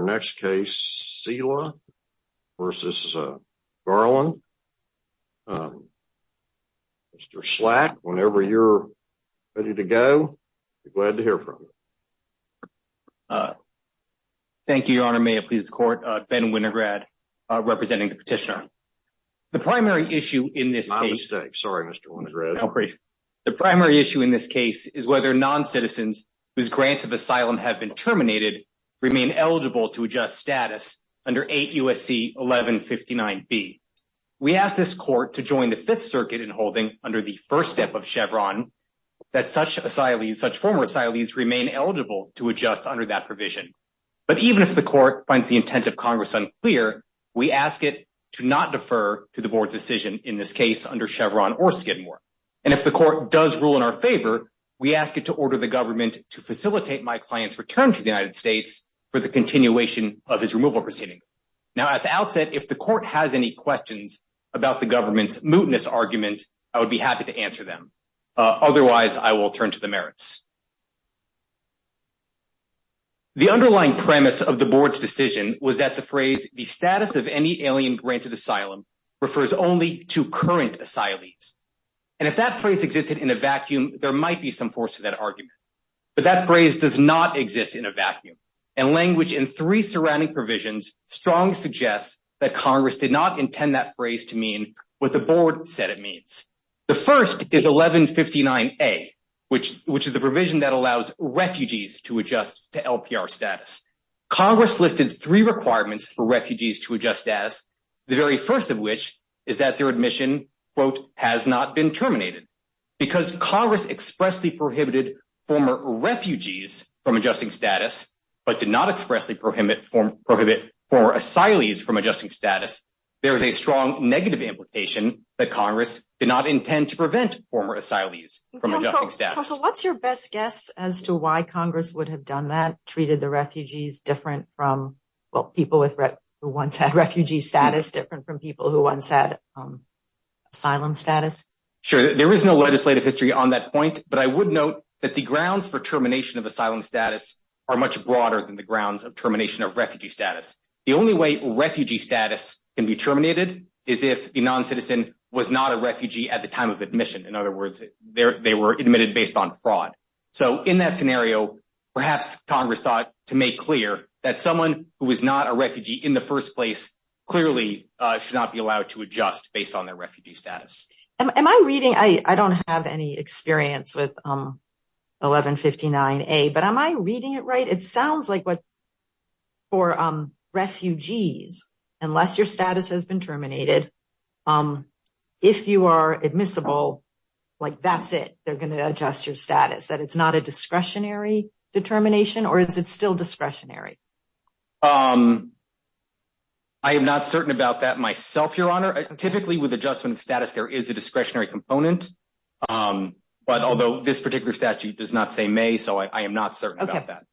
Mr. Slack, whenever you're ready to go, we're glad to hear from you. Thank you, Your Honor. May it please the Court. Ben Winograd, representing the petitioner. The primary issue in this case— My mistake. Sorry, Mr. Winograd. The primary issue in this case is whether non-citizens whose grants of asylum have been status under 8 U.S.C. 1159B. We ask this Court to join the Fifth Circuit in holding, under the first step of Chevron, that such former asylees remain eligible to adjust under that provision. But even if the Court finds the intent of Congress unclear, we ask it to not defer to the Board's decision in this case under Chevron or Skidmore. And if the Court does rule in our favor, we ask it to order the government to facilitate my client's return to the United States for the continuation of his removal proceedings. Now, at the outset, if the Court has any questions about the government's mootness argument, I would be happy to answer them. Otherwise, I will turn to the merits. The underlying premise of the Board's decision was that the phrase, the status of any alien-granted asylum, refers only to current asylees. And if that phrase existed in a vacuum, there might be some force to that argument. But that phrase does not exist in a vacuum. And language in three surrounding provisions strongly suggests that Congress did not intend that phrase to mean what the Board said it means. The first is 1159A, which is the provision that allows refugees to adjust to LPR status. Congress listed three requirements for refugees to adjust status, the very first of which is that their admission, quote, has not been terminated. Because Congress expressly prohibited former refugees from adjusting status, but did not expressly prohibit former asylees from adjusting status, there is a strong negative implication that Congress did not intend to prevent former asylees from adjusting status. So what's your best guess as to why Congress would have done that, treated the refugees different from, well, people who once had refugee status different from people who once had asylum status? Sure. There is no legislative history on that point. But I would note that the grounds for termination of asylum status are much broader than the grounds of termination of refugee status. The only way refugee status can be terminated is if the non-citizen was not a refugee at the time of admission. In other words, they were admitted based on fraud. So in that scenario, perhaps clearly should not be allowed to adjust based on their refugee status. Am I reading, I don't have any experience with 1159A, but am I reading it right? It sounds like for refugees, unless your status has been terminated, if you are admissible, like, that's it, they're going to adjust your status, that it's not a discretionary determination, or is it still discretionary? I am not certain about that myself, Your Honor. Typically with adjustment of status, there is a discretionary component. But although this particular statute does not say may, so I am not certain about that.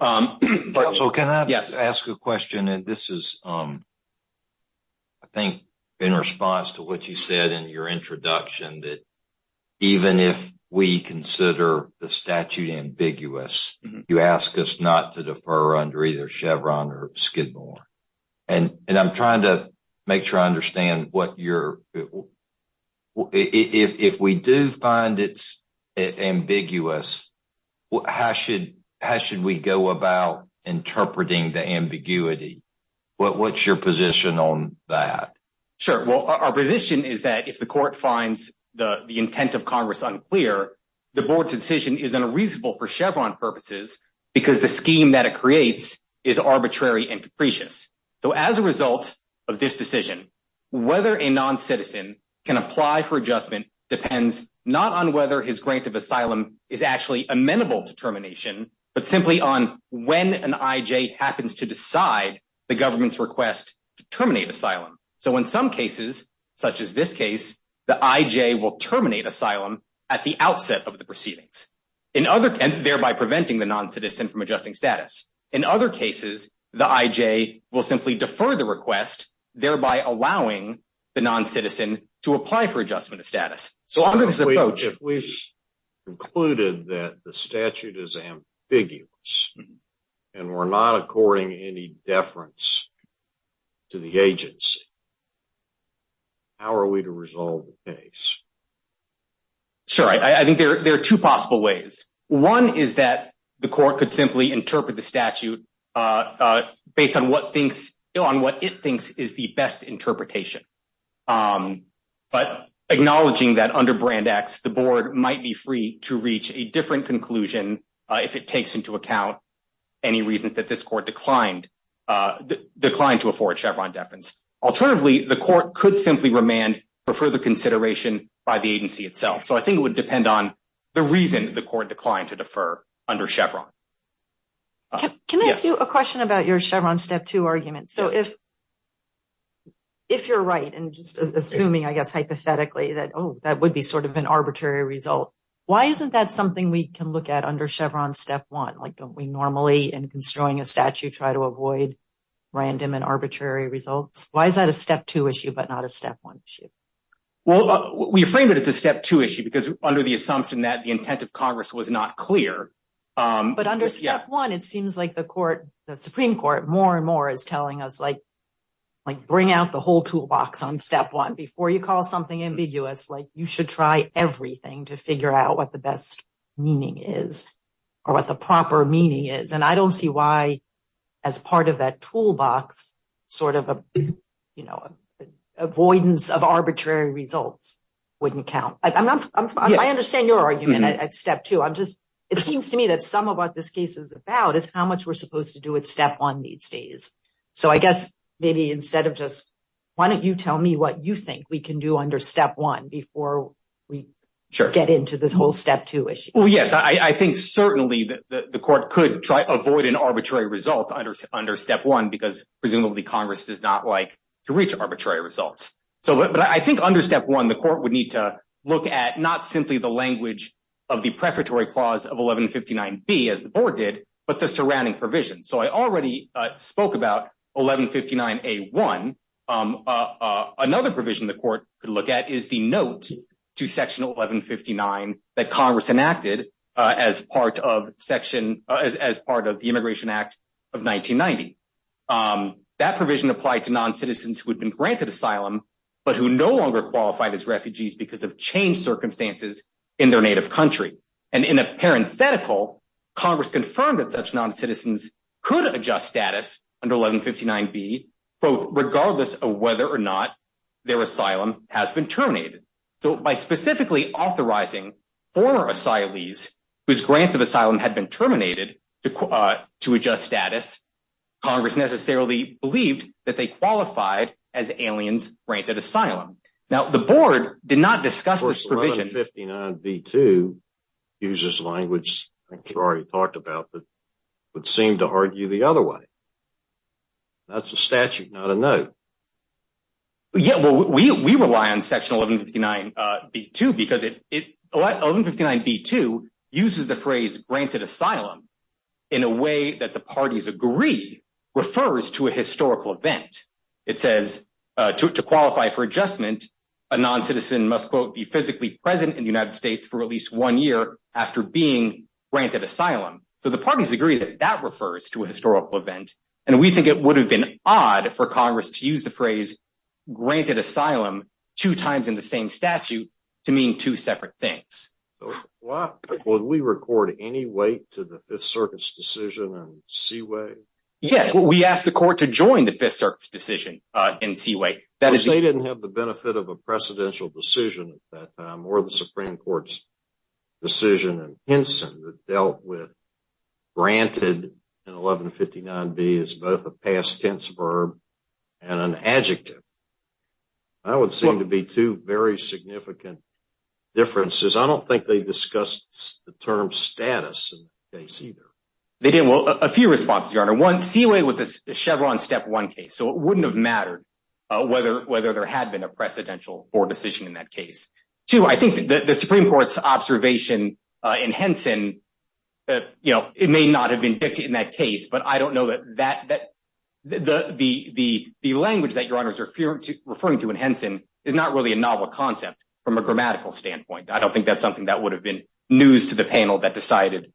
Counsel, can I ask a question? And this is, I think, in response to what you said in your introduction, that even if we consider the statute ambiguous, you ask us not to defer under either Chevron or Skidmore. And I'm trying to make sure I understand what your, if we do find it's ambiguous, how should we go about interpreting the ambiguity? What's your position on that? Sure. Well, our position is that if the reasonable for Chevron purposes, because the scheme that it creates is arbitrary and capricious. So as a result of this decision, whether a non-citizen can apply for adjustment depends not on whether his grant of asylum is actually amenable to termination, but simply on when an IJ happens to decide the government's request to terminate asylum. So in some cases, such as this in other, and thereby preventing the non-citizen from adjusting status. In other cases, the IJ will simply defer the request, thereby allowing the non-citizen to apply for adjustment of status. So under this approach, if we've concluded that the statute is ambiguous and we're not according any deference to the agency, how are we to resolve the case? Sure. I think there are two possible ways. One is that the court could simply interpret the statute based on what it thinks is the best interpretation. But acknowledging that under Brand X, the board might be free to reach a different conclusion if it takes into account any reasons this court declined to afford Chevron deference. Alternatively, the court could simply remand for further consideration by the agency itself. So I think it would depend on the reason the court declined to defer under Chevron. Can I ask you a question about your Chevron Step 2 argument? So if you're right, and just assuming, I guess, hypothetically that, oh, that would be sort of an arbitrary result, why isn't that something we can look at under Chevron Step 1? Like, we normally, in construing a statute, try to avoid random and arbitrary results. Why is that a Step 2 issue but not a Step 1 issue? Well, we frame it as a Step 2 issue because under the assumption that the intent of Congress was not clear. But under Step 1, it seems like the Supreme Court more and more is telling us, like, bring out the whole toolbox on Step 1 before you call something ambiguous. Like, you should try everything to figure out what the best meaning is or what the proper meaning is. And I don't see why, as part of that toolbox, sort of avoidance of arbitrary results wouldn't count. I understand your argument at Step 2. It seems to me that some of what this case is about is how much we're supposed to do with Step 1 these days. So I guess maybe instead of just, why don't you tell me what you think we can do under Step 1 before we get into this whole Step 2 issue? Well, yes. I think certainly the Court could try to avoid an arbitrary result under Step 1 because presumably Congress does not like to reach arbitrary results. But I think under Step 1, the Court would need to look at not simply the language of the Prefatory Clause of 1159B, as the Board did, but the surrounding provisions. So I already spoke about 1159A1. Another provision the Court could look at is the note to Section 1159 that Congress enacted as part of the Immigration Act of 1990. That provision applied to non-citizens who had been granted asylum but who no longer qualified as refugees because of changed circumstances in their native country. And parenthetical, Congress confirmed that such non-citizens could adjust status under 1159B regardless of whether or not their asylum has been terminated. So by specifically authorizing former asylees whose grants of asylum had been terminated to adjust status, Congress necessarily believed that they qualified as aliens granted asylum. Now the Board did not discuss this in the statute, but 1159B2 uses language I think you already talked about that would seem to argue the other way. That's a statute, not a note. Yeah, well, we rely on Section 1159B2 because 1159B2 uses the phrase granted asylum in a way that the parties agree refers to a historical event. It says, to qualify for adjustment, a non-citizen must, quote, be physically present in the United States for at least one year after being granted asylum. So the parties agree that that refers to a historical event, and we think it would have been odd for Congress to use the phrase granted asylum two times in the same statute to mean two separate things. Would we record any weight to the Fifth Circuit's decision in Seaway? Yes, we asked the court to join the Fifth Circuit's decision in Seaway. They didn't have the benefit of a precedential decision at that time or the Supreme Court's decision in Henson that dealt with granted in 1159B as both a past tense verb and an adjective. That would seem to be two very significant differences. I don't think they discussed the term status in the case either. They didn't. Well, a few responses, Your Honor. One, it wouldn't have mattered whether there had been a precedential or decision in that case. Two, I think that the Supreme Court's observation in Henson, it may not have been dictated in that case, but I don't know that the language that Your Honor is referring to in Henson is not really a novel concept from a grammatical standpoint. I don't think that's something that would have been news to the panel that decided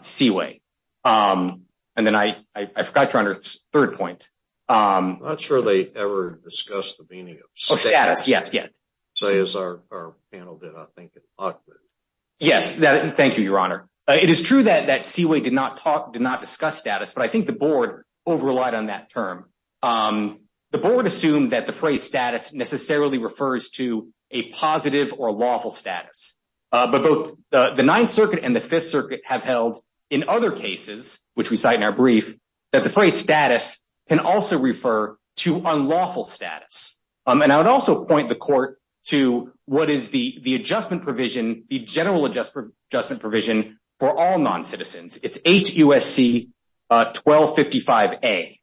Seaway. And then I forgot Your Honor's third point. I'm not sure they ever discussed the meaning of status, say as our panel did. I think it's awkward. Yes, thank you, Your Honor. It is true that Seaway did not discuss status, but I think the board over relied on that term. The board assumed that the phrase status necessarily refers to a positive or lawful status. But both the Ninth Circuit and the Fifth Circuit have held in other cases, which we cite in our brief, that the phrase status can also refer to unlawful status. And I would also point the court to what is the adjustment provision, the general adjustment provision for all non-citizens. It's HUSC 1255A.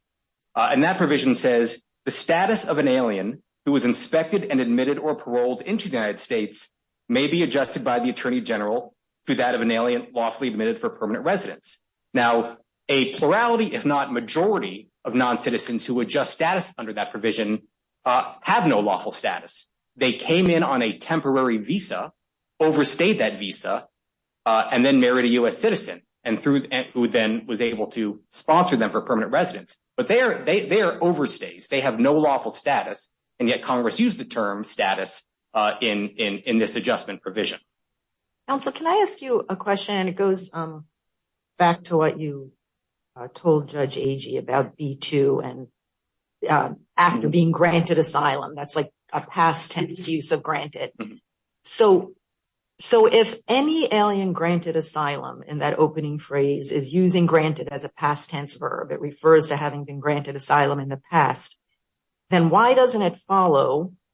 And that provision says the status of an alien who was inspected and admitted or paroled into the United States may be adjusted by the Attorney General through that of an alien lawfully admitted for permanent residence. Now, a plurality, if not majority, of non-citizens who adjust status under that provision have no lawful status. They came in on a temporary visa, overstayed that visa, and then married a U.S. citizen who then was able to sponsor them for permanent residence. But they are overstays. They have no lawful status, and yet Congress used the term status in this adjustment provision. Counsel, can I ask you a question? It goes back to what you told Judge Agee about B-2 and after being granted asylum. That's like a past tense use of granted. So if any alien granted asylum in that opening phrase is using granted as a past tense verb, it refers to having been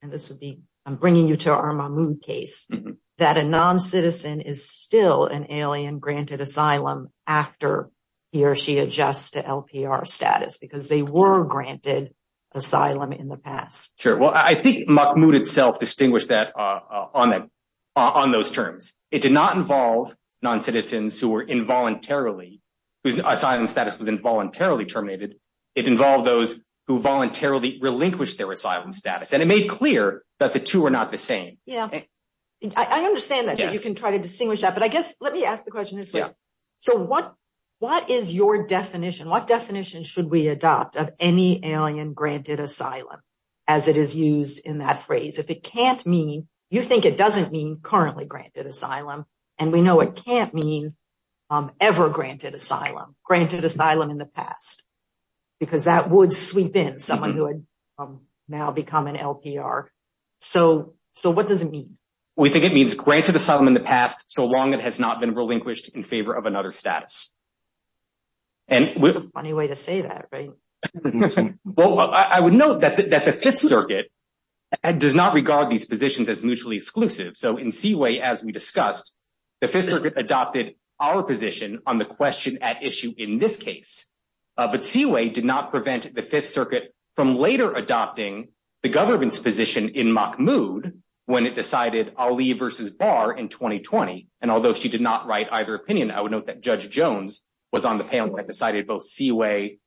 and this would be, I'm bringing you to our Mahmoud case, that a non-citizen is still an alien granted asylum after he or she adjusts to LPR status because they were granted asylum in the past. Sure. Well, I think Mahmoud itself distinguished that on those terms. It did not involve non-citizens who were involuntarily, whose asylum status was involuntarily terminated. It involved those who voluntarily relinquished their asylum status, and it made clear that the two are not the same. Yeah. I understand that you can try to distinguish that, but I guess let me ask the question this way. So what is your definition? What definition should we adopt of any alien granted asylum as it is used in that phrase? If it can't mean, you think it doesn't mean currently granted asylum, and we know it can't ever granted asylum, granted asylum in the past, because that would sweep in someone who had now become an LPR. So what does it mean? We think it means granted asylum in the past, so long it has not been relinquished in favor of another status. And it's a funny way to say that, right? Well, I would note that the Fifth Circuit does not regard these positions as mutually exclusive. So in Seaway, as we discussed, the Fifth Circuit adopted our position on the question at issue in this case. But Seaway did not prevent the Fifth Circuit from later adopting the government's position in Mahmoud when it decided Ali versus Barr in 2020. And although she did not write either opinion, I would note that Judge Jones was on the panel that decided both Seaway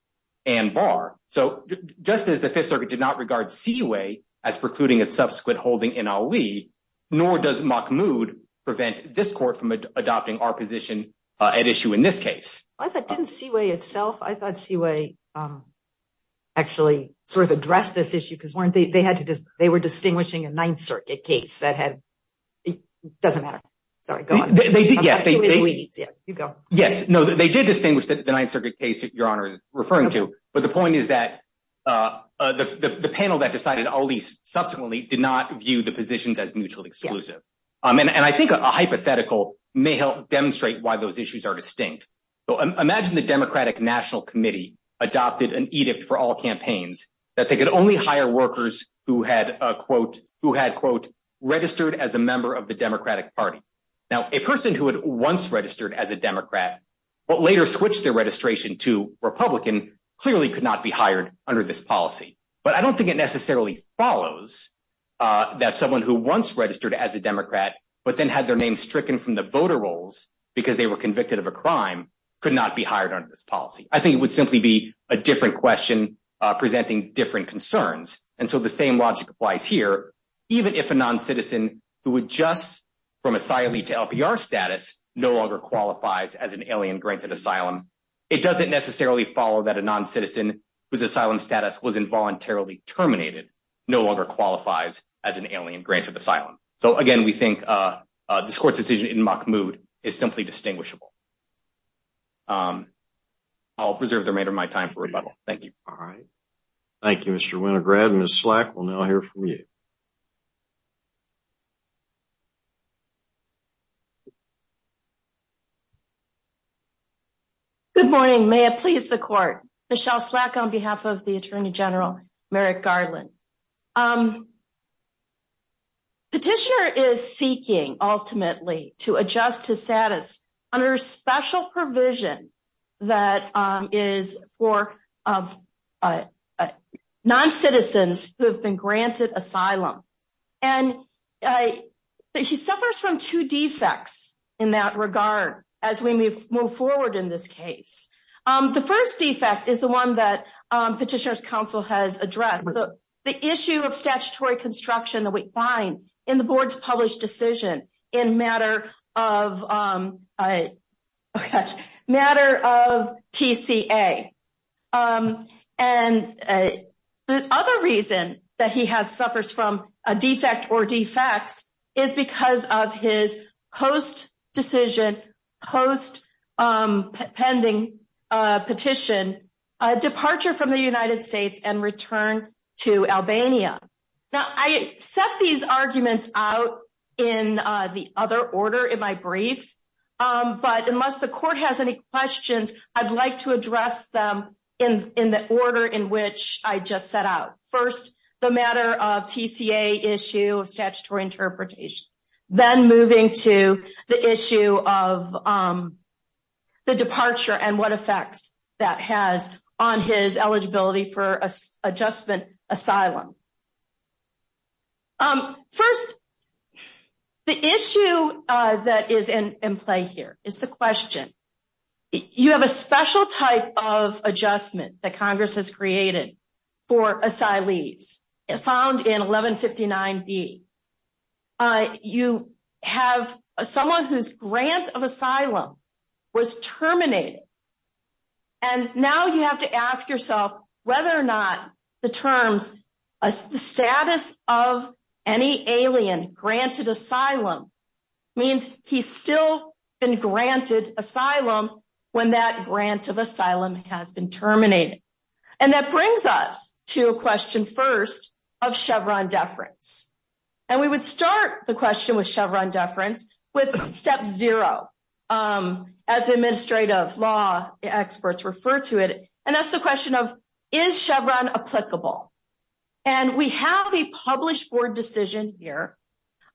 and Barr. So just as the Fifth Circuit did not regard Seaway as precluding its subsequent holding in Ali, nor does Mahmoud prevent this court from adopting our position at issue in this case. I thought it didn't Seaway itself. I thought Seaway actually sort of addressed this issue because they were distinguishing a Ninth Circuit case that had, it doesn't matter. Sorry, go on. Yes, no, they did distinguish the Ninth Circuit case that Your Honor is referring to, but the point is that the panel that decided Ali subsequently did not view the positions as mutually exclusive. And I think a hypothetical may help demonstrate why those issues are distinct. So imagine the Democratic National Committee adopted an edict for all campaigns that they could only hire workers who had, quote, registered as a member of the Democratic Party. Now, a person who had once registered as a Democrat but later switched their registration to Republican clearly could not be hired under this policy. But I don't think it would be that someone who once registered as a Democrat but then had their name stricken from the voter rolls because they were convicted of a crime could not be hired under this policy. I think it would simply be a different question presenting different concerns. And so the same logic applies here. Even if a non-citizen who adjusts from asylee to LPR status no longer qualifies as an alien-granted asylum, it doesn't necessarily follow that a non-citizen whose granted asylum. So again, we think this court's decision in Mahmoud is simply distinguishable. I'll preserve the remainder of my time for rebuttal. Thank you. All right. Thank you, Mr. Winograd. Ms. Slack will now hear from you. Good morning. May it please the court. Michelle Slack on behalf of the Attorney General, Merrick Garland. Petitioner is seeking ultimately to adjust to status under a special provision that is for non-citizens who have been granted asylum. And she suffers from two defects in that regard as we move forward in this case. The first defect is the one that Petitioner's addressed, the issue of statutory construction that we find in the board's published decision in matter of TCA. And the other reason that he suffers from a defect or defects is because of his post-decision, post-pending petition, departure from the United States and return to Albania. Now, I set these arguments out in the other order in my brief. But unless the court has any questions, I'd like to address them in the order in which I just set out. First, the matter of TCA issue of statutory interpretation. Then moving to the issue of the departure and what effects that has on his eligibility for adjustment asylum. First, the issue that is in play here is the question. You have a special type of adjustment that Congress has created for asylees found in 1159B. You have someone whose grant of asylum was terminated. And now you have to ask yourself whether or not the terms, the status of any alien granted asylum, means he's still been granted asylum when that grant of asylum has been terminated. And that brings us to a question first of Chevron deference. And we would start the question with Chevron deference with step zero as administrative law experts refer to it. And that's the question of, is Chevron applicable? And we have a published board decision here,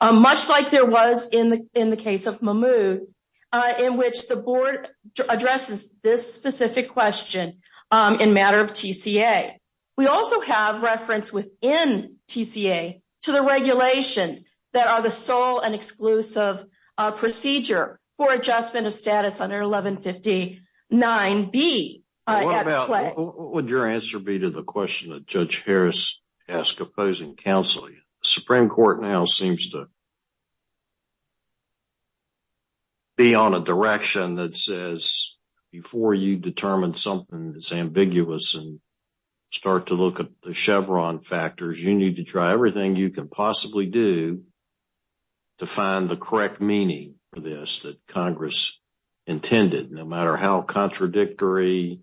much like there was in the case of Mahmoud, in which the board addresses this specific question in matter of TCA. We also have reference within TCA to the regulations that are the sole and exclusive procedure for adjustment of status under 1159B. What would your answer be to the question that Judge Harris asked opposing counsel? Supreme Court now seems to be on a direction that says before you determine something that's ambiguous and start to look at the Chevron factors, you need to try everything you can possibly do to find the correct meaning for this that Congress intended, no matter how contradictory,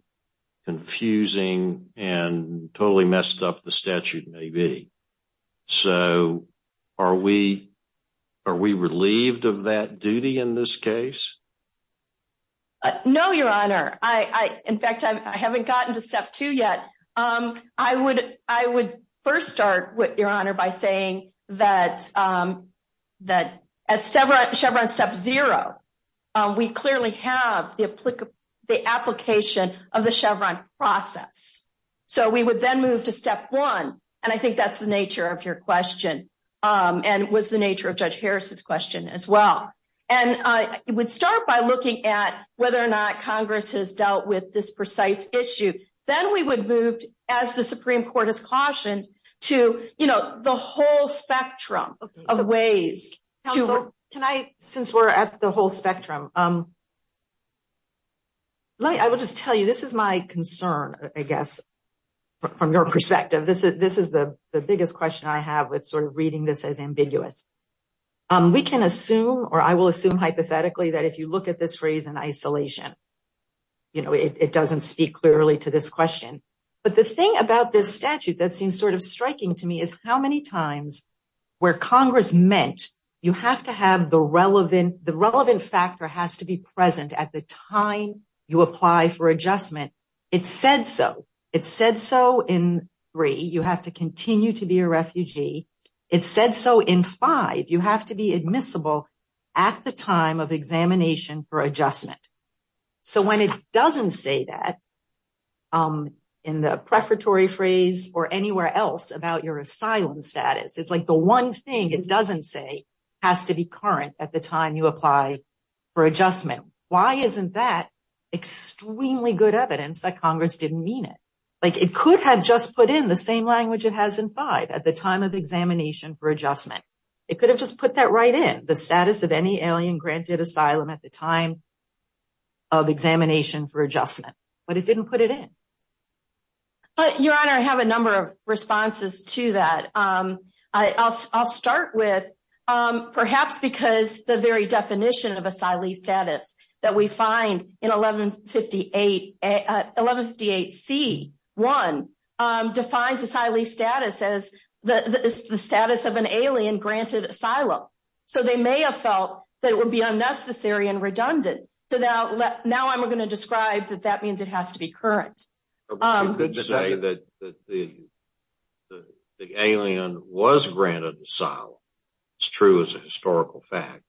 confusing, and totally messed up the statute may be. So are we relieved of that duty in this case? No, Your Honor. In fact, I haven't gotten to step two yet. I would first start, Your Honor, by saying that at Chevron step zero, we clearly have the application of the Chevron process. So we would then move to step one. And I think that's the nature of your question and was the nature of Judge Harris's question as well. And I would start by looking at whether or not Congress has dealt with this precise issue. Then we would move, as the Supreme Court has cautioned, to the whole spectrum of ways. Counsel, since we're at the whole spectrum, I will just tell you, this is my concern, I guess, from your perspective. This is the biggest question I have with reading this as ambiguous. We can assume, or I will assume hypothetically, that if you look at this phrase in isolation, it doesn't speak clearly to this question. But the thing about this statute that seems sort of striking to me is how many times where Congress meant the relevant factor has to be present at the time you apply for adjustment, it said so. It said so in three, you have to continue to be a refugee. It said so in five, you have to be admissible at the time of examination for adjustment. So when it doesn't say that in the prefatory phrase or anywhere else about your asylum status, it's like the one thing it doesn't say has to be current at the time you apply for adjustment. Why isn't that extremely good evidence that Congress didn't mean it? It could have just put in the same language it has in five, at the time of examination for adjustment. It could have just put that right in, status of any alien granted asylum at the time of examination for adjustment, but it didn't put it in. Your Honor, I have a number of responses to that. I'll start with perhaps because the very definition of asylee status that we find in 1158C1 defines asylee status as the status of an alien granted asylum. So they may have felt that it would be unnecessary and redundant. So now I'm going to describe that that means it has to be current. You could say that the alien was granted asylum. It's true as a historical fact,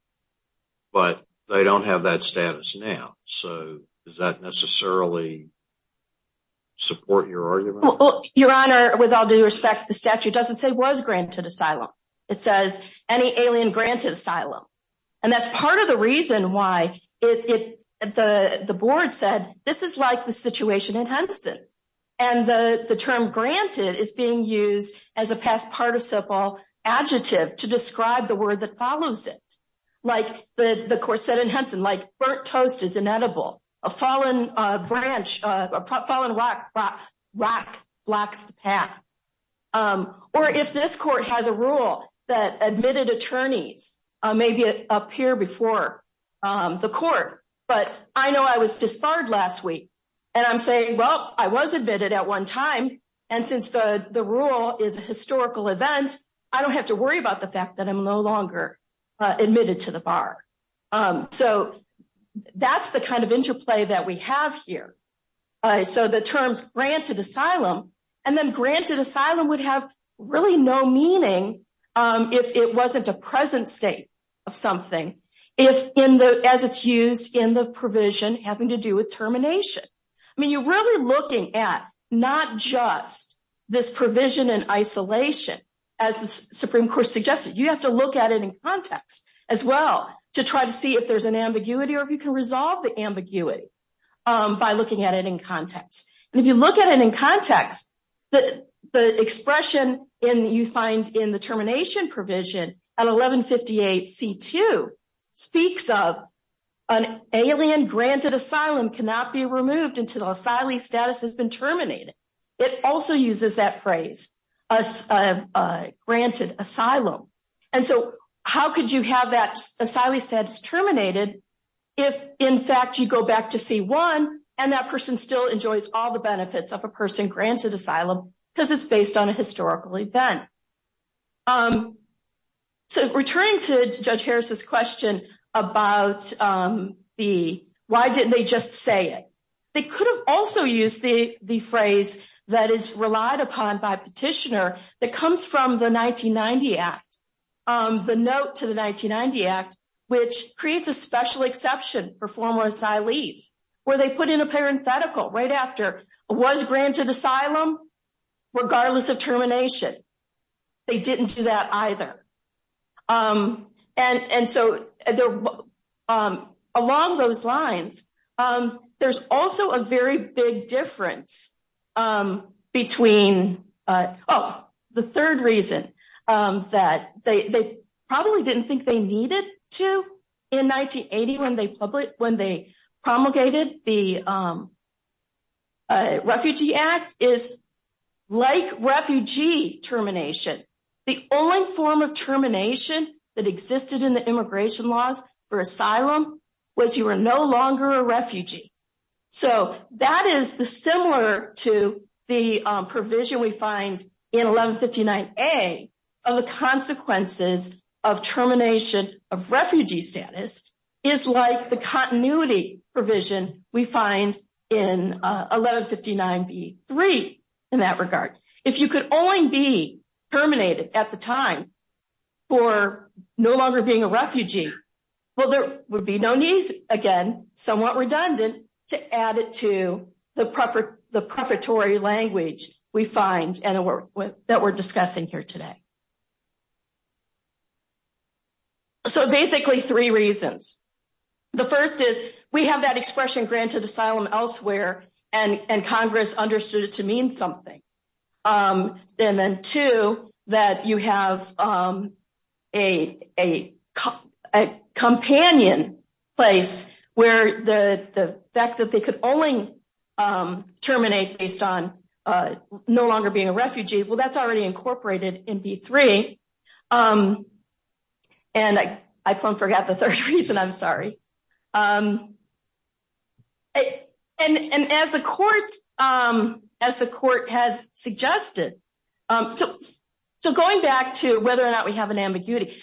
but they don't have that status now. So does that necessarily support your argument? Your Honor, with all due respect, the statute doesn't say was granted asylum. It says any alien granted asylum. And that's part of the reason why the board said this is like the situation in Henson. And the term granted is being used as a past participle adjective to describe the word that follows it. Like the court said in Henson, like burnt toast is inedible. A fallen branch, a fallen rock blocks the path. Or if this court has a rule that admitted attorneys may be up here before the court, but I know I was disbarred last week. And I'm saying, well, I was admitted at one time. And since the rule is a historical event, I don't have to worry about the here. So the terms granted asylum and then granted asylum would have really no meaning if it wasn't a present state of something. If in the, as it's used in the provision having to do with termination. I mean, you're really looking at not just this provision in isolation as the Supreme Court suggested. You have to look at it in context as well to try to see if there's an ambiguity by looking at it in context. And if you look at it in context, the expression in you find in the termination provision at 1158 C2 speaks of an alien granted asylum cannot be removed until the asylee status has been terminated. It also uses that phrase granted asylum. And so how could you have that asylee status terminated? If in fact, you go back to C1 and that person still enjoys all the benefits of a person granted asylum because it's based on a historical event. So returning to Judge Harris's question about the, why didn't they just say it? They could have also used the phrase that is relied upon by petitioner that comes from the 1990 Act, the note to the 1990 Act, which creates a special exception for former asylees where they put in a parenthetical right after was granted asylum regardless of termination. They didn't do that either. And so along those lines, there's also a very big difference between, oh, the third reason that they probably didn't think they needed to in 1980 when they promulgated the like refugee termination. The only form of termination that existed in the immigration laws for asylum was you were no longer a refugee. So that is the similar to the provision we find in 1159 A of the consequences of termination of refugee status is like the continuity provision we find in 1159 B3 in that regard. If you could only be terminated at the time for no longer being a refugee, well, there would be no need again, somewhat redundant to add it to the preparatory language we find and that we're discussing here today. So basically, three reasons. The first is we have that expression granted asylum elsewhere and Congress understood it to mean something. And then two, that you have a companion place where the fact that they could only terminate based on no longer being a refugee, well, that's already incorporated in B3. And I forgot the third reason, I'm sorry. And as the court has suggested, so going back to whether or not we have an ambiguity,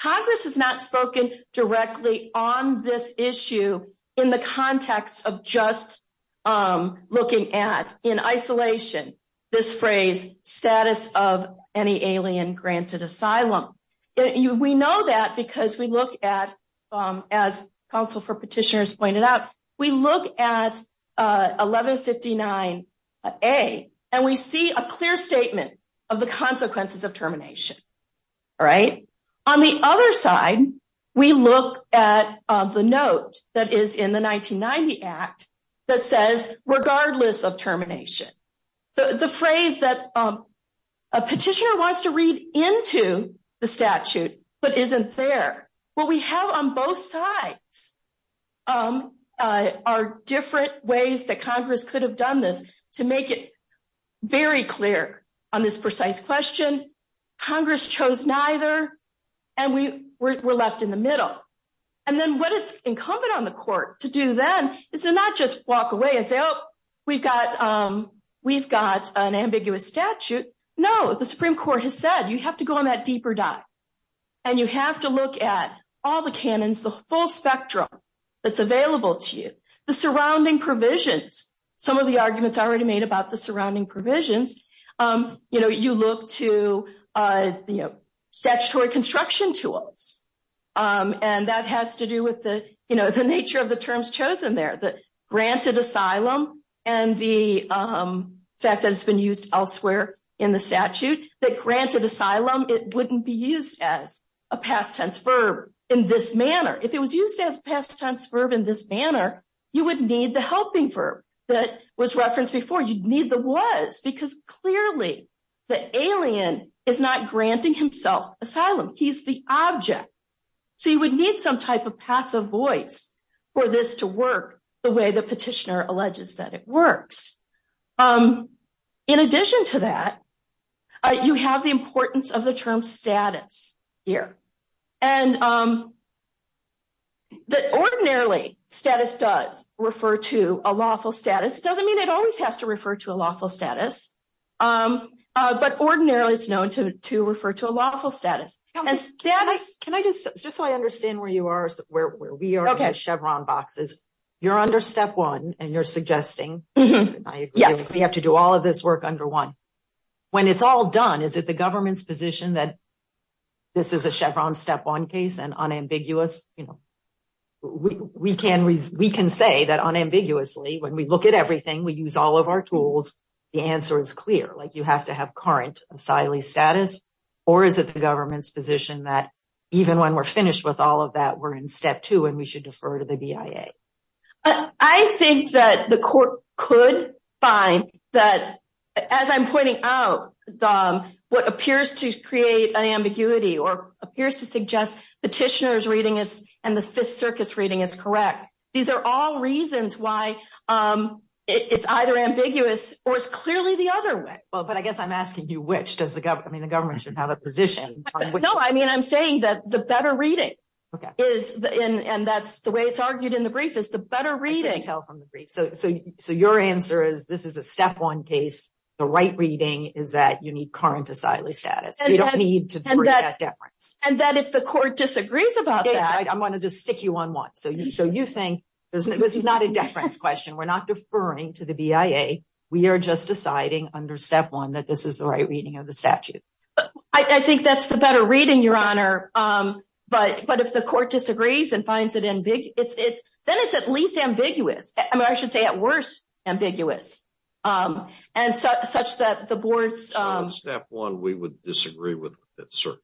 Congress has not spoken directly on this issue in the context of just looking at, in isolation, this phrase, status of any alien granted asylum. We know that because we look at, as counsel for petitioners pointed out, we look at 1159 A and we see a clear statement of the consequences of termination, right? On the other side, we look at the note that is in the 1990 Act that says, regardless of termination. The phrase that a petitioner wants to read into the statute, but isn't there. What we have on both sides are different ways that Congress could have done this to make it very clear on this precise question. Congress chose neither, and we were left in the middle. And then what it's incumbent on the court to do then is to not just walk away and say, oh, we've got an ambiguous statute. No, the Supreme Court has said, you have to go on that deeper dive. And you have to look at all the canons, the full spectrum that's available to you, the surrounding provisions. Some of the arguments already made about the surrounding provisions, you look to statutory construction tools. And that has to do with the nature of the terms chosen there, that granted asylum and the fact that it's been used elsewhere in the statute, that granted asylum, it wouldn't be used as a past tense verb in this manner. If it was used as past tense verb in this manner, you would need the helping verb that was referenced before. You'd need the was, because clearly the alien is not granting himself asylum. He's the object. So you would need some type of passive voice for this to work the way the petitioner alleges that it works. In addition to that, you have the importance of the term status here. And ordinarily, status does refer to a lawful status. It doesn't mean it always has to refer to a lawful status. But ordinarily, it's known to refer to a lawful status. And status- Can I just, just so I understand where you are, where we are in the Chevron boxes, you're under step one and you're suggesting- Yes. We have to do all of this work under one. When it's all done, is it the government's position that this is a Chevron step one case and unambiguous? We can say that unambiguously, when we look at everything, we use all of our tools, the answer is clear. Like you have to have current asylee status, or is it the government's position that even when we're finished with all of that, we're in step two and we should defer to the BIA? I think that the court could find that, as I'm pointing out, what appears to create an ambiguity or appears to suggest petitioner's reading is, and the Fifth Circus reading is correct. These are all reasons why it's either ambiguous or it's clearly the other way. Well, but I guess I'm asking you, which does the government, I mean, the government should have a position on which- No, I mean, I'm saying that the better reading is, and that's the way it's argued in the brief, is the better reading- You can tell from the brief. So your answer is this is a step one case, the right reading is that you need current asylee status. You don't need to defer that deference. And that if the court disagrees about that- I'm going to just stick you on one. So you think, this is not a deference question. We're not deferring to the BIA. We are just deciding under step one that this is the right reading of the statute. I think that's the better reading, Your Honor. But if the court disagrees and finds it, then it's at least ambiguous. I mean, I should say at worst, ambiguous. And such that the board's- On step one, we would disagree with the Fifth Circuit.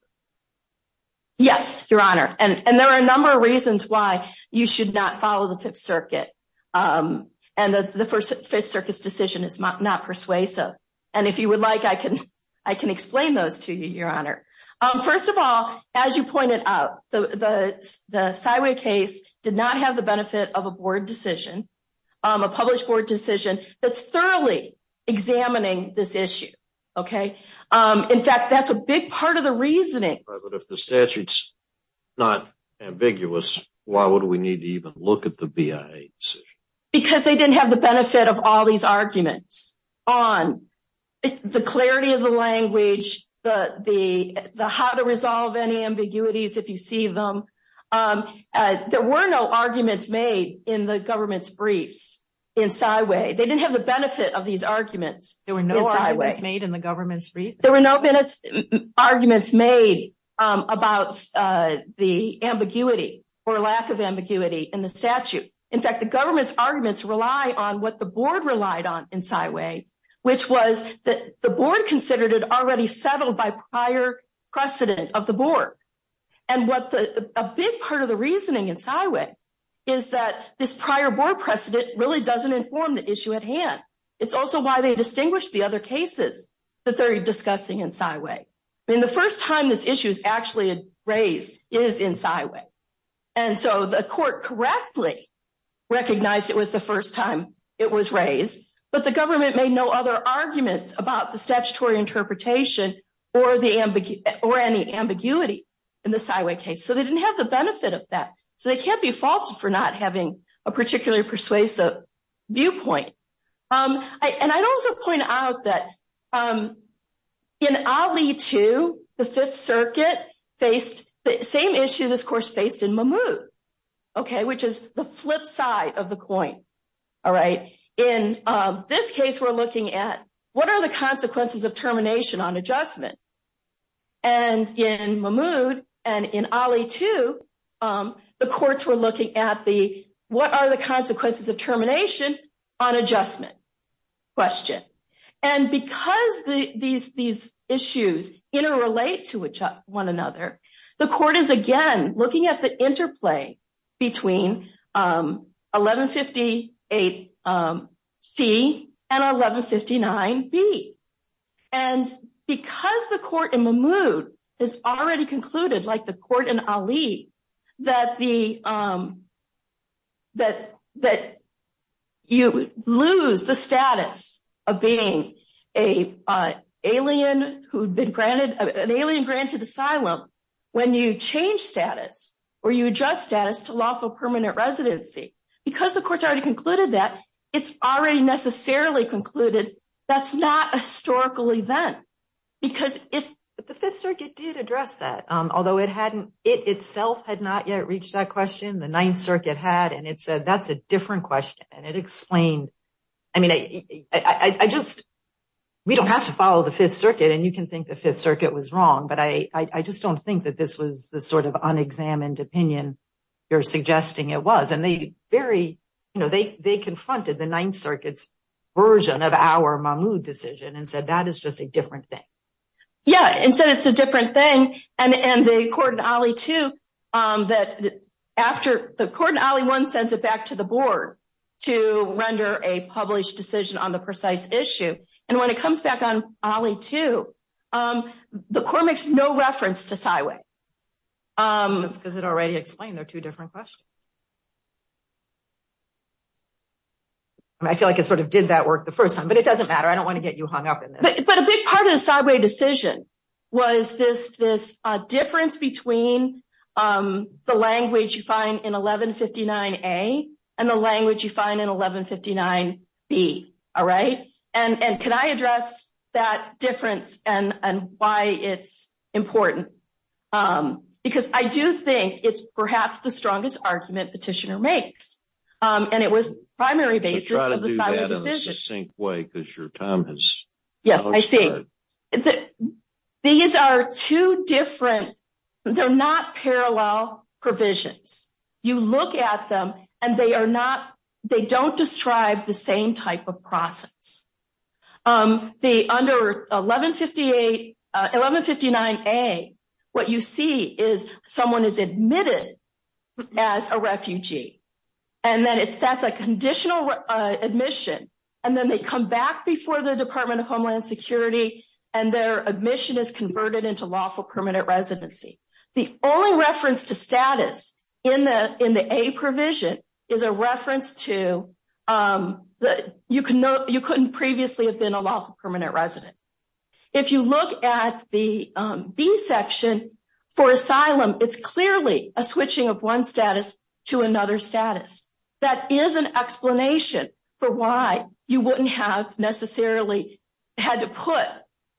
Yes, Your Honor. And there are a number of reasons why you should not follow the Fifth Circuit. And the Fifth Circuit's decision is not persuasive. And if you would like, I can explain those to you, Your Honor. First of all, as you pointed out, the Syway case did not have the benefit of a board decision, a published board decision that's thoroughly examining this issue. In fact, that's a big part of the reasoning. But if the statute's not ambiguous, why would we need to even look at the BIA decision? Because they didn't have the benefit of all these arguments on the clarity of the language, the how to resolve any ambiguities if you see them. There were no arguments made in the government's briefs in Syway. They didn't have the benefit of these arguments in Syway. There were no arguments made in the government's briefs? There were no arguments made about the ambiguity or lack of ambiguity in the statute. In fact, the government's arguments rely on what the board relied on in Syway, which was that the board considered it already settled by prior precedent of the board. And a big part of the reasoning in Syway is that this prior board precedent really doesn't inform the issue at hand. It's also why they distinguish the other cases that they're discussing in Syway. I mean, the first time this issue is actually raised is in Syway. And so the court correctly recognized it was the first time it was raised. But the government made no other arguments about the statutory interpretation or any ambiguity in the Syway case. So they didn't have the benefit of that. So they can't be faulted for not having a particularly persuasive viewpoint. And I'd also point out that in Ali 2, the Fifth Circuit faced the same issue this course faced in Mahmoud, which is the flip side of the coin. In this case, we're looking at what are the courts were looking at the, what are the consequences of termination on adjustment question. And because these issues interrelate to each one another, the court is again looking at the interplay between 1158C and 1159B. And because the court in Mahmoud has already concluded like the court in Ali, that you lose the status of being an alien granted asylum when you change status or you adjust status to lawful permanent residency. Because the courts already concluded that, it's already necessarily concluded that's not a historical event. Because if the Fifth Circuit hadn't, it itself had not yet reached that question. The Ninth Circuit had, and it said, that's a different question. And it explained, I mean, I just, we don't have to follow the Fifth Circuit and you can think the Fifth Circuit was wrong. But I just don't think that this was the sort of unexamined opinion you're suggesting it was. And they very, you know, they confronted the Ninth Circuit's version of our Mahmoud decision and said, that is just a different thing. Yeah, and said it's a different thing. And the court in Ali too, that after the court in Ali one sends it back to the board to render a published decision on the precise issue. And when it comes back on Ali too, the court makes no reference to Siway. That's because it already explained they're two different questions. I feel like it sort of did that work the first time, but it doesn't matter. I don't want to you hung up in this. But a big part of the Siway decision was this difference between the language you find in 1159A and the language you find in 1159B. All right. And can I address that difference and why it's important? Because I do think it's perhaps the strongest argument makes. And it was primary basis of the Siway decision. Yes, I see. These are two different, they're not parallel provisions. You look at them and they are not, they don't describe the same process. The under 1158, 1159A, what you see is someone is admitted as a refugee. And that's a conditional admission. And then they come back before the Department of Homeland Security and their admission is converted into lawful permanent residency. The only reference to status in the A provision is a reference to, you couldn't previously have been a lawful permanent resident. If you look at the B section for asylum, it's clearly a switching of one status to another status. That is an explanation for why you wouldn't have necessarily had to put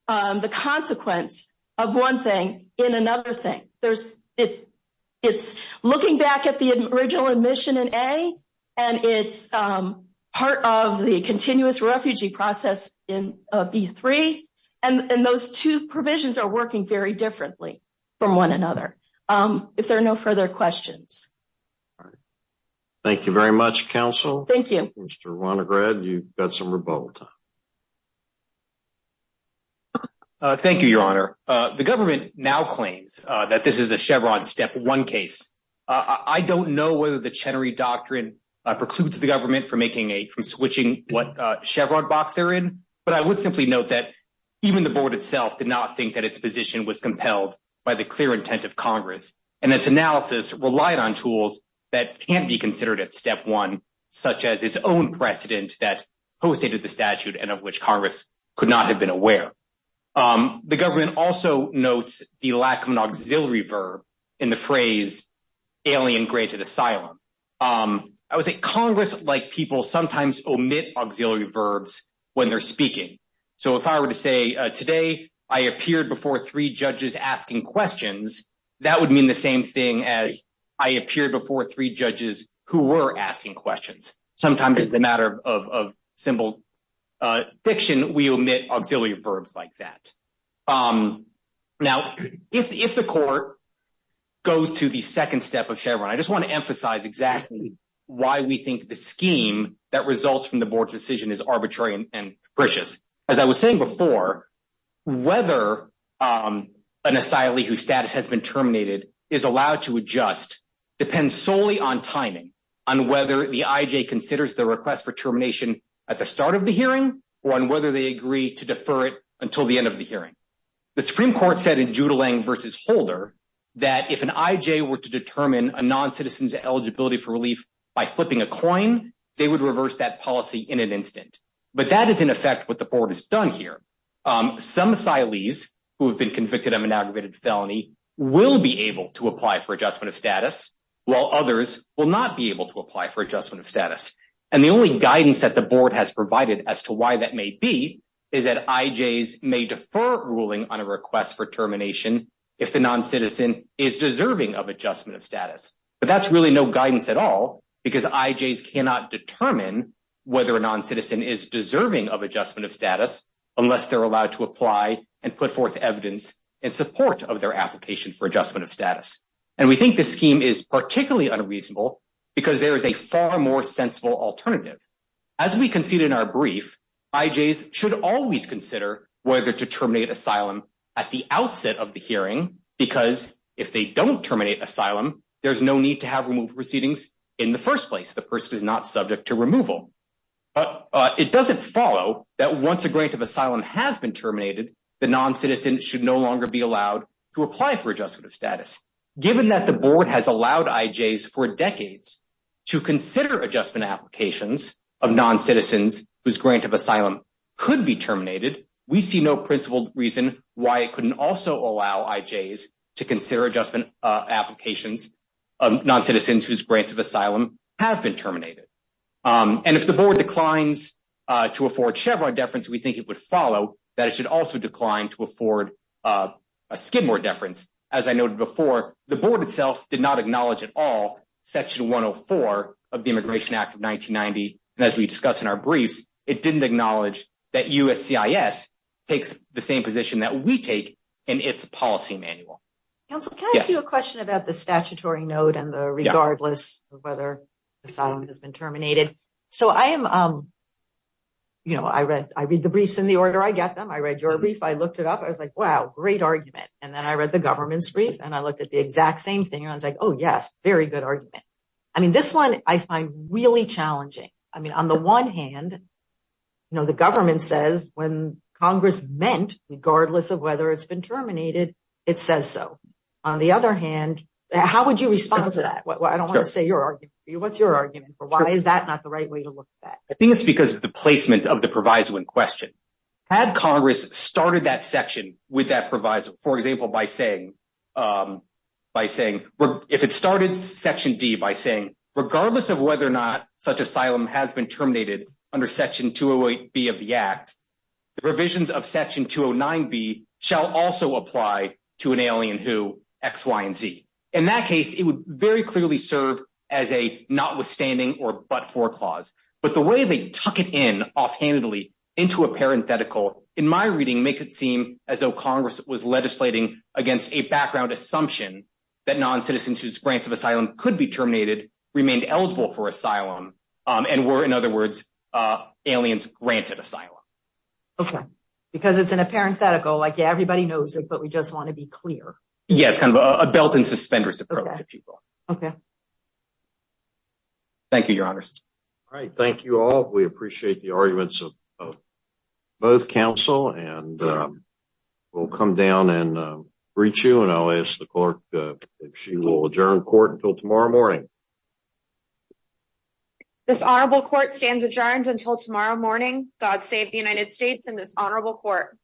the consequence of one thing in another thing. It's looking back at the original admission in A and it's part of the continuous refugee process in B3. And those two provisions are working very differently from one another. If there are no further questions. All right. Thank you very much, counsel. Thank you. Mr. Ronagrad, you've got some rebuttal time. Thank you, your honor. The government now claims that this is a Chevron step one case. I don't know whether the Chenery Doctrine precludes the government from switching what Chevron box they're in. But I would simply note that even the board itself did not think that its position was compelled by the clear intent of Congress. And its analysis relied on tools that can't be considered at step one, such as its own precedent that postdated the statute and of which Congress could not have been aware. The government also notes the lack of an auxiliary verb in the phrase alien graded asylum. I would say Congress like people sometimes omit auxiliary verbs when they're speaking. So if I were to say today, I appeared before three judges asking questions, that would mean the same thing as I appeared before three judges who were asking questions. Sometimes it's a matter of simple fiction, we omit auxiliary verbs like that. Now, if the court goes to the second step of Chevron, I just want to emphasize exactly why we think the scheme that results from the board's decision is arbitrary and precious. As I was saying before, whether an asylee whose status has been terminated is allowed to adjust depends solely on timing, on whether the IJ considers the request for termination at the start of the hearing, or on whether they agree to defer it until the end of the hearing. The Supreme Court said in Judeling v. Holder that if an IJ were to determine a non-citizen's eligibility for relief by flipping a coin, they would reverse that policy in an instant. But that is in effect what the board has done here. Some asylees who have been convicted of an aggravated felony will be able to apply for adjustment of status, while others will not be able to apply for adjustment of status. And the only guidance that the board has provided as to why that may be is that IJs may defer ruling on a request for termination if the non-citizen is deserving of adjustment of status. But that's really no guidance at all because IJs cannot determine whether a non-citizen is deserving of adjustment of status unless they're allowed to apply and put forth evidence in support of their application for adjustment of status. And we think this scheme is particularly unreasonable because there is a far more sensible alternative. As we conceded in our brief, IJs should always consider whether to terminate asylum at the outset of the hearing because if they don't terminate asylum, there's need to have removal proceedings in the first place. The person is not subject to removal. But it doesn't follow that once a grant of asylum has been terminated, the non-citizen should no longer be allowed to apply for adjustment of status. Given that the board has allowed IJs for decades to consider adjustment applications of non-citizens whose grant of asylum could be terminated, we see no principled reason why it couldn't also allow IJs to consider adjustment applications of non-citizens whose grants of asylum have been terminated. And if the board declines to afford Chevron deference, we think it would follow that it should also decline to afford a Skidmore deference. As I noted before, the board itself did not acknowledge at all section 104 of the Immigration Act of 1990. And as we discussed in our briefs, it didn't acknowledge that USCIS takes the same position that we take in its policy manual. Counsel, can I ask you a question about the statutory note and the regardless of whether asylum has been terminated? So I read the briefs in the order I get them. I read your brief. I looked it up. I was like, wow, great argument. And then I read the government's brief and I looked at the exact same thing. And I was like, oh, yes, very good argument. I mean, this one I find really challenging. I mean, on the one hand, the government says when Congress meant, regardless of whether it's been terminated, it says so. On the other hand, how would you respond to that? I don't want to say your argument for you. What's your argument for why is that not the right way to look at that? I think it's because of the placement of the proviso in question. Had Congress started that section with that proviso, for example, by saying if it started section D by saying regardless of whether or not such asylum has been terminated under section 208B of the act, the provisions of section 209B shall also apply to an alien who, X, Y, and Z. In that case, it would very clearly serve as a notwithstanding or but-for clause. But the way they tuck it in offhandedly into a parenthetical, in my reading, makes it seem as though Congress was legislating against a background assumption that noncitizens whose grants of asylum could be terminated remained eligible for asylum, and were, in other words, aliens granted asylum. Okay. Because it's in a parenthetical, like, yeah, everybody knows it, but we just want to be clear. Yeah, it's kind of a belt-and-suspenders approach to people. Okay. Thank you, Your Honors. All right. Thank you all. We appreciate the arguments of both counsel, and we'll come down and reach you, and I'll ask the clerk if she will adjourn court until tomorrow morning. This Honorable Court stands adjourned until tomorrow morning. God save the United States and this Honorable Court.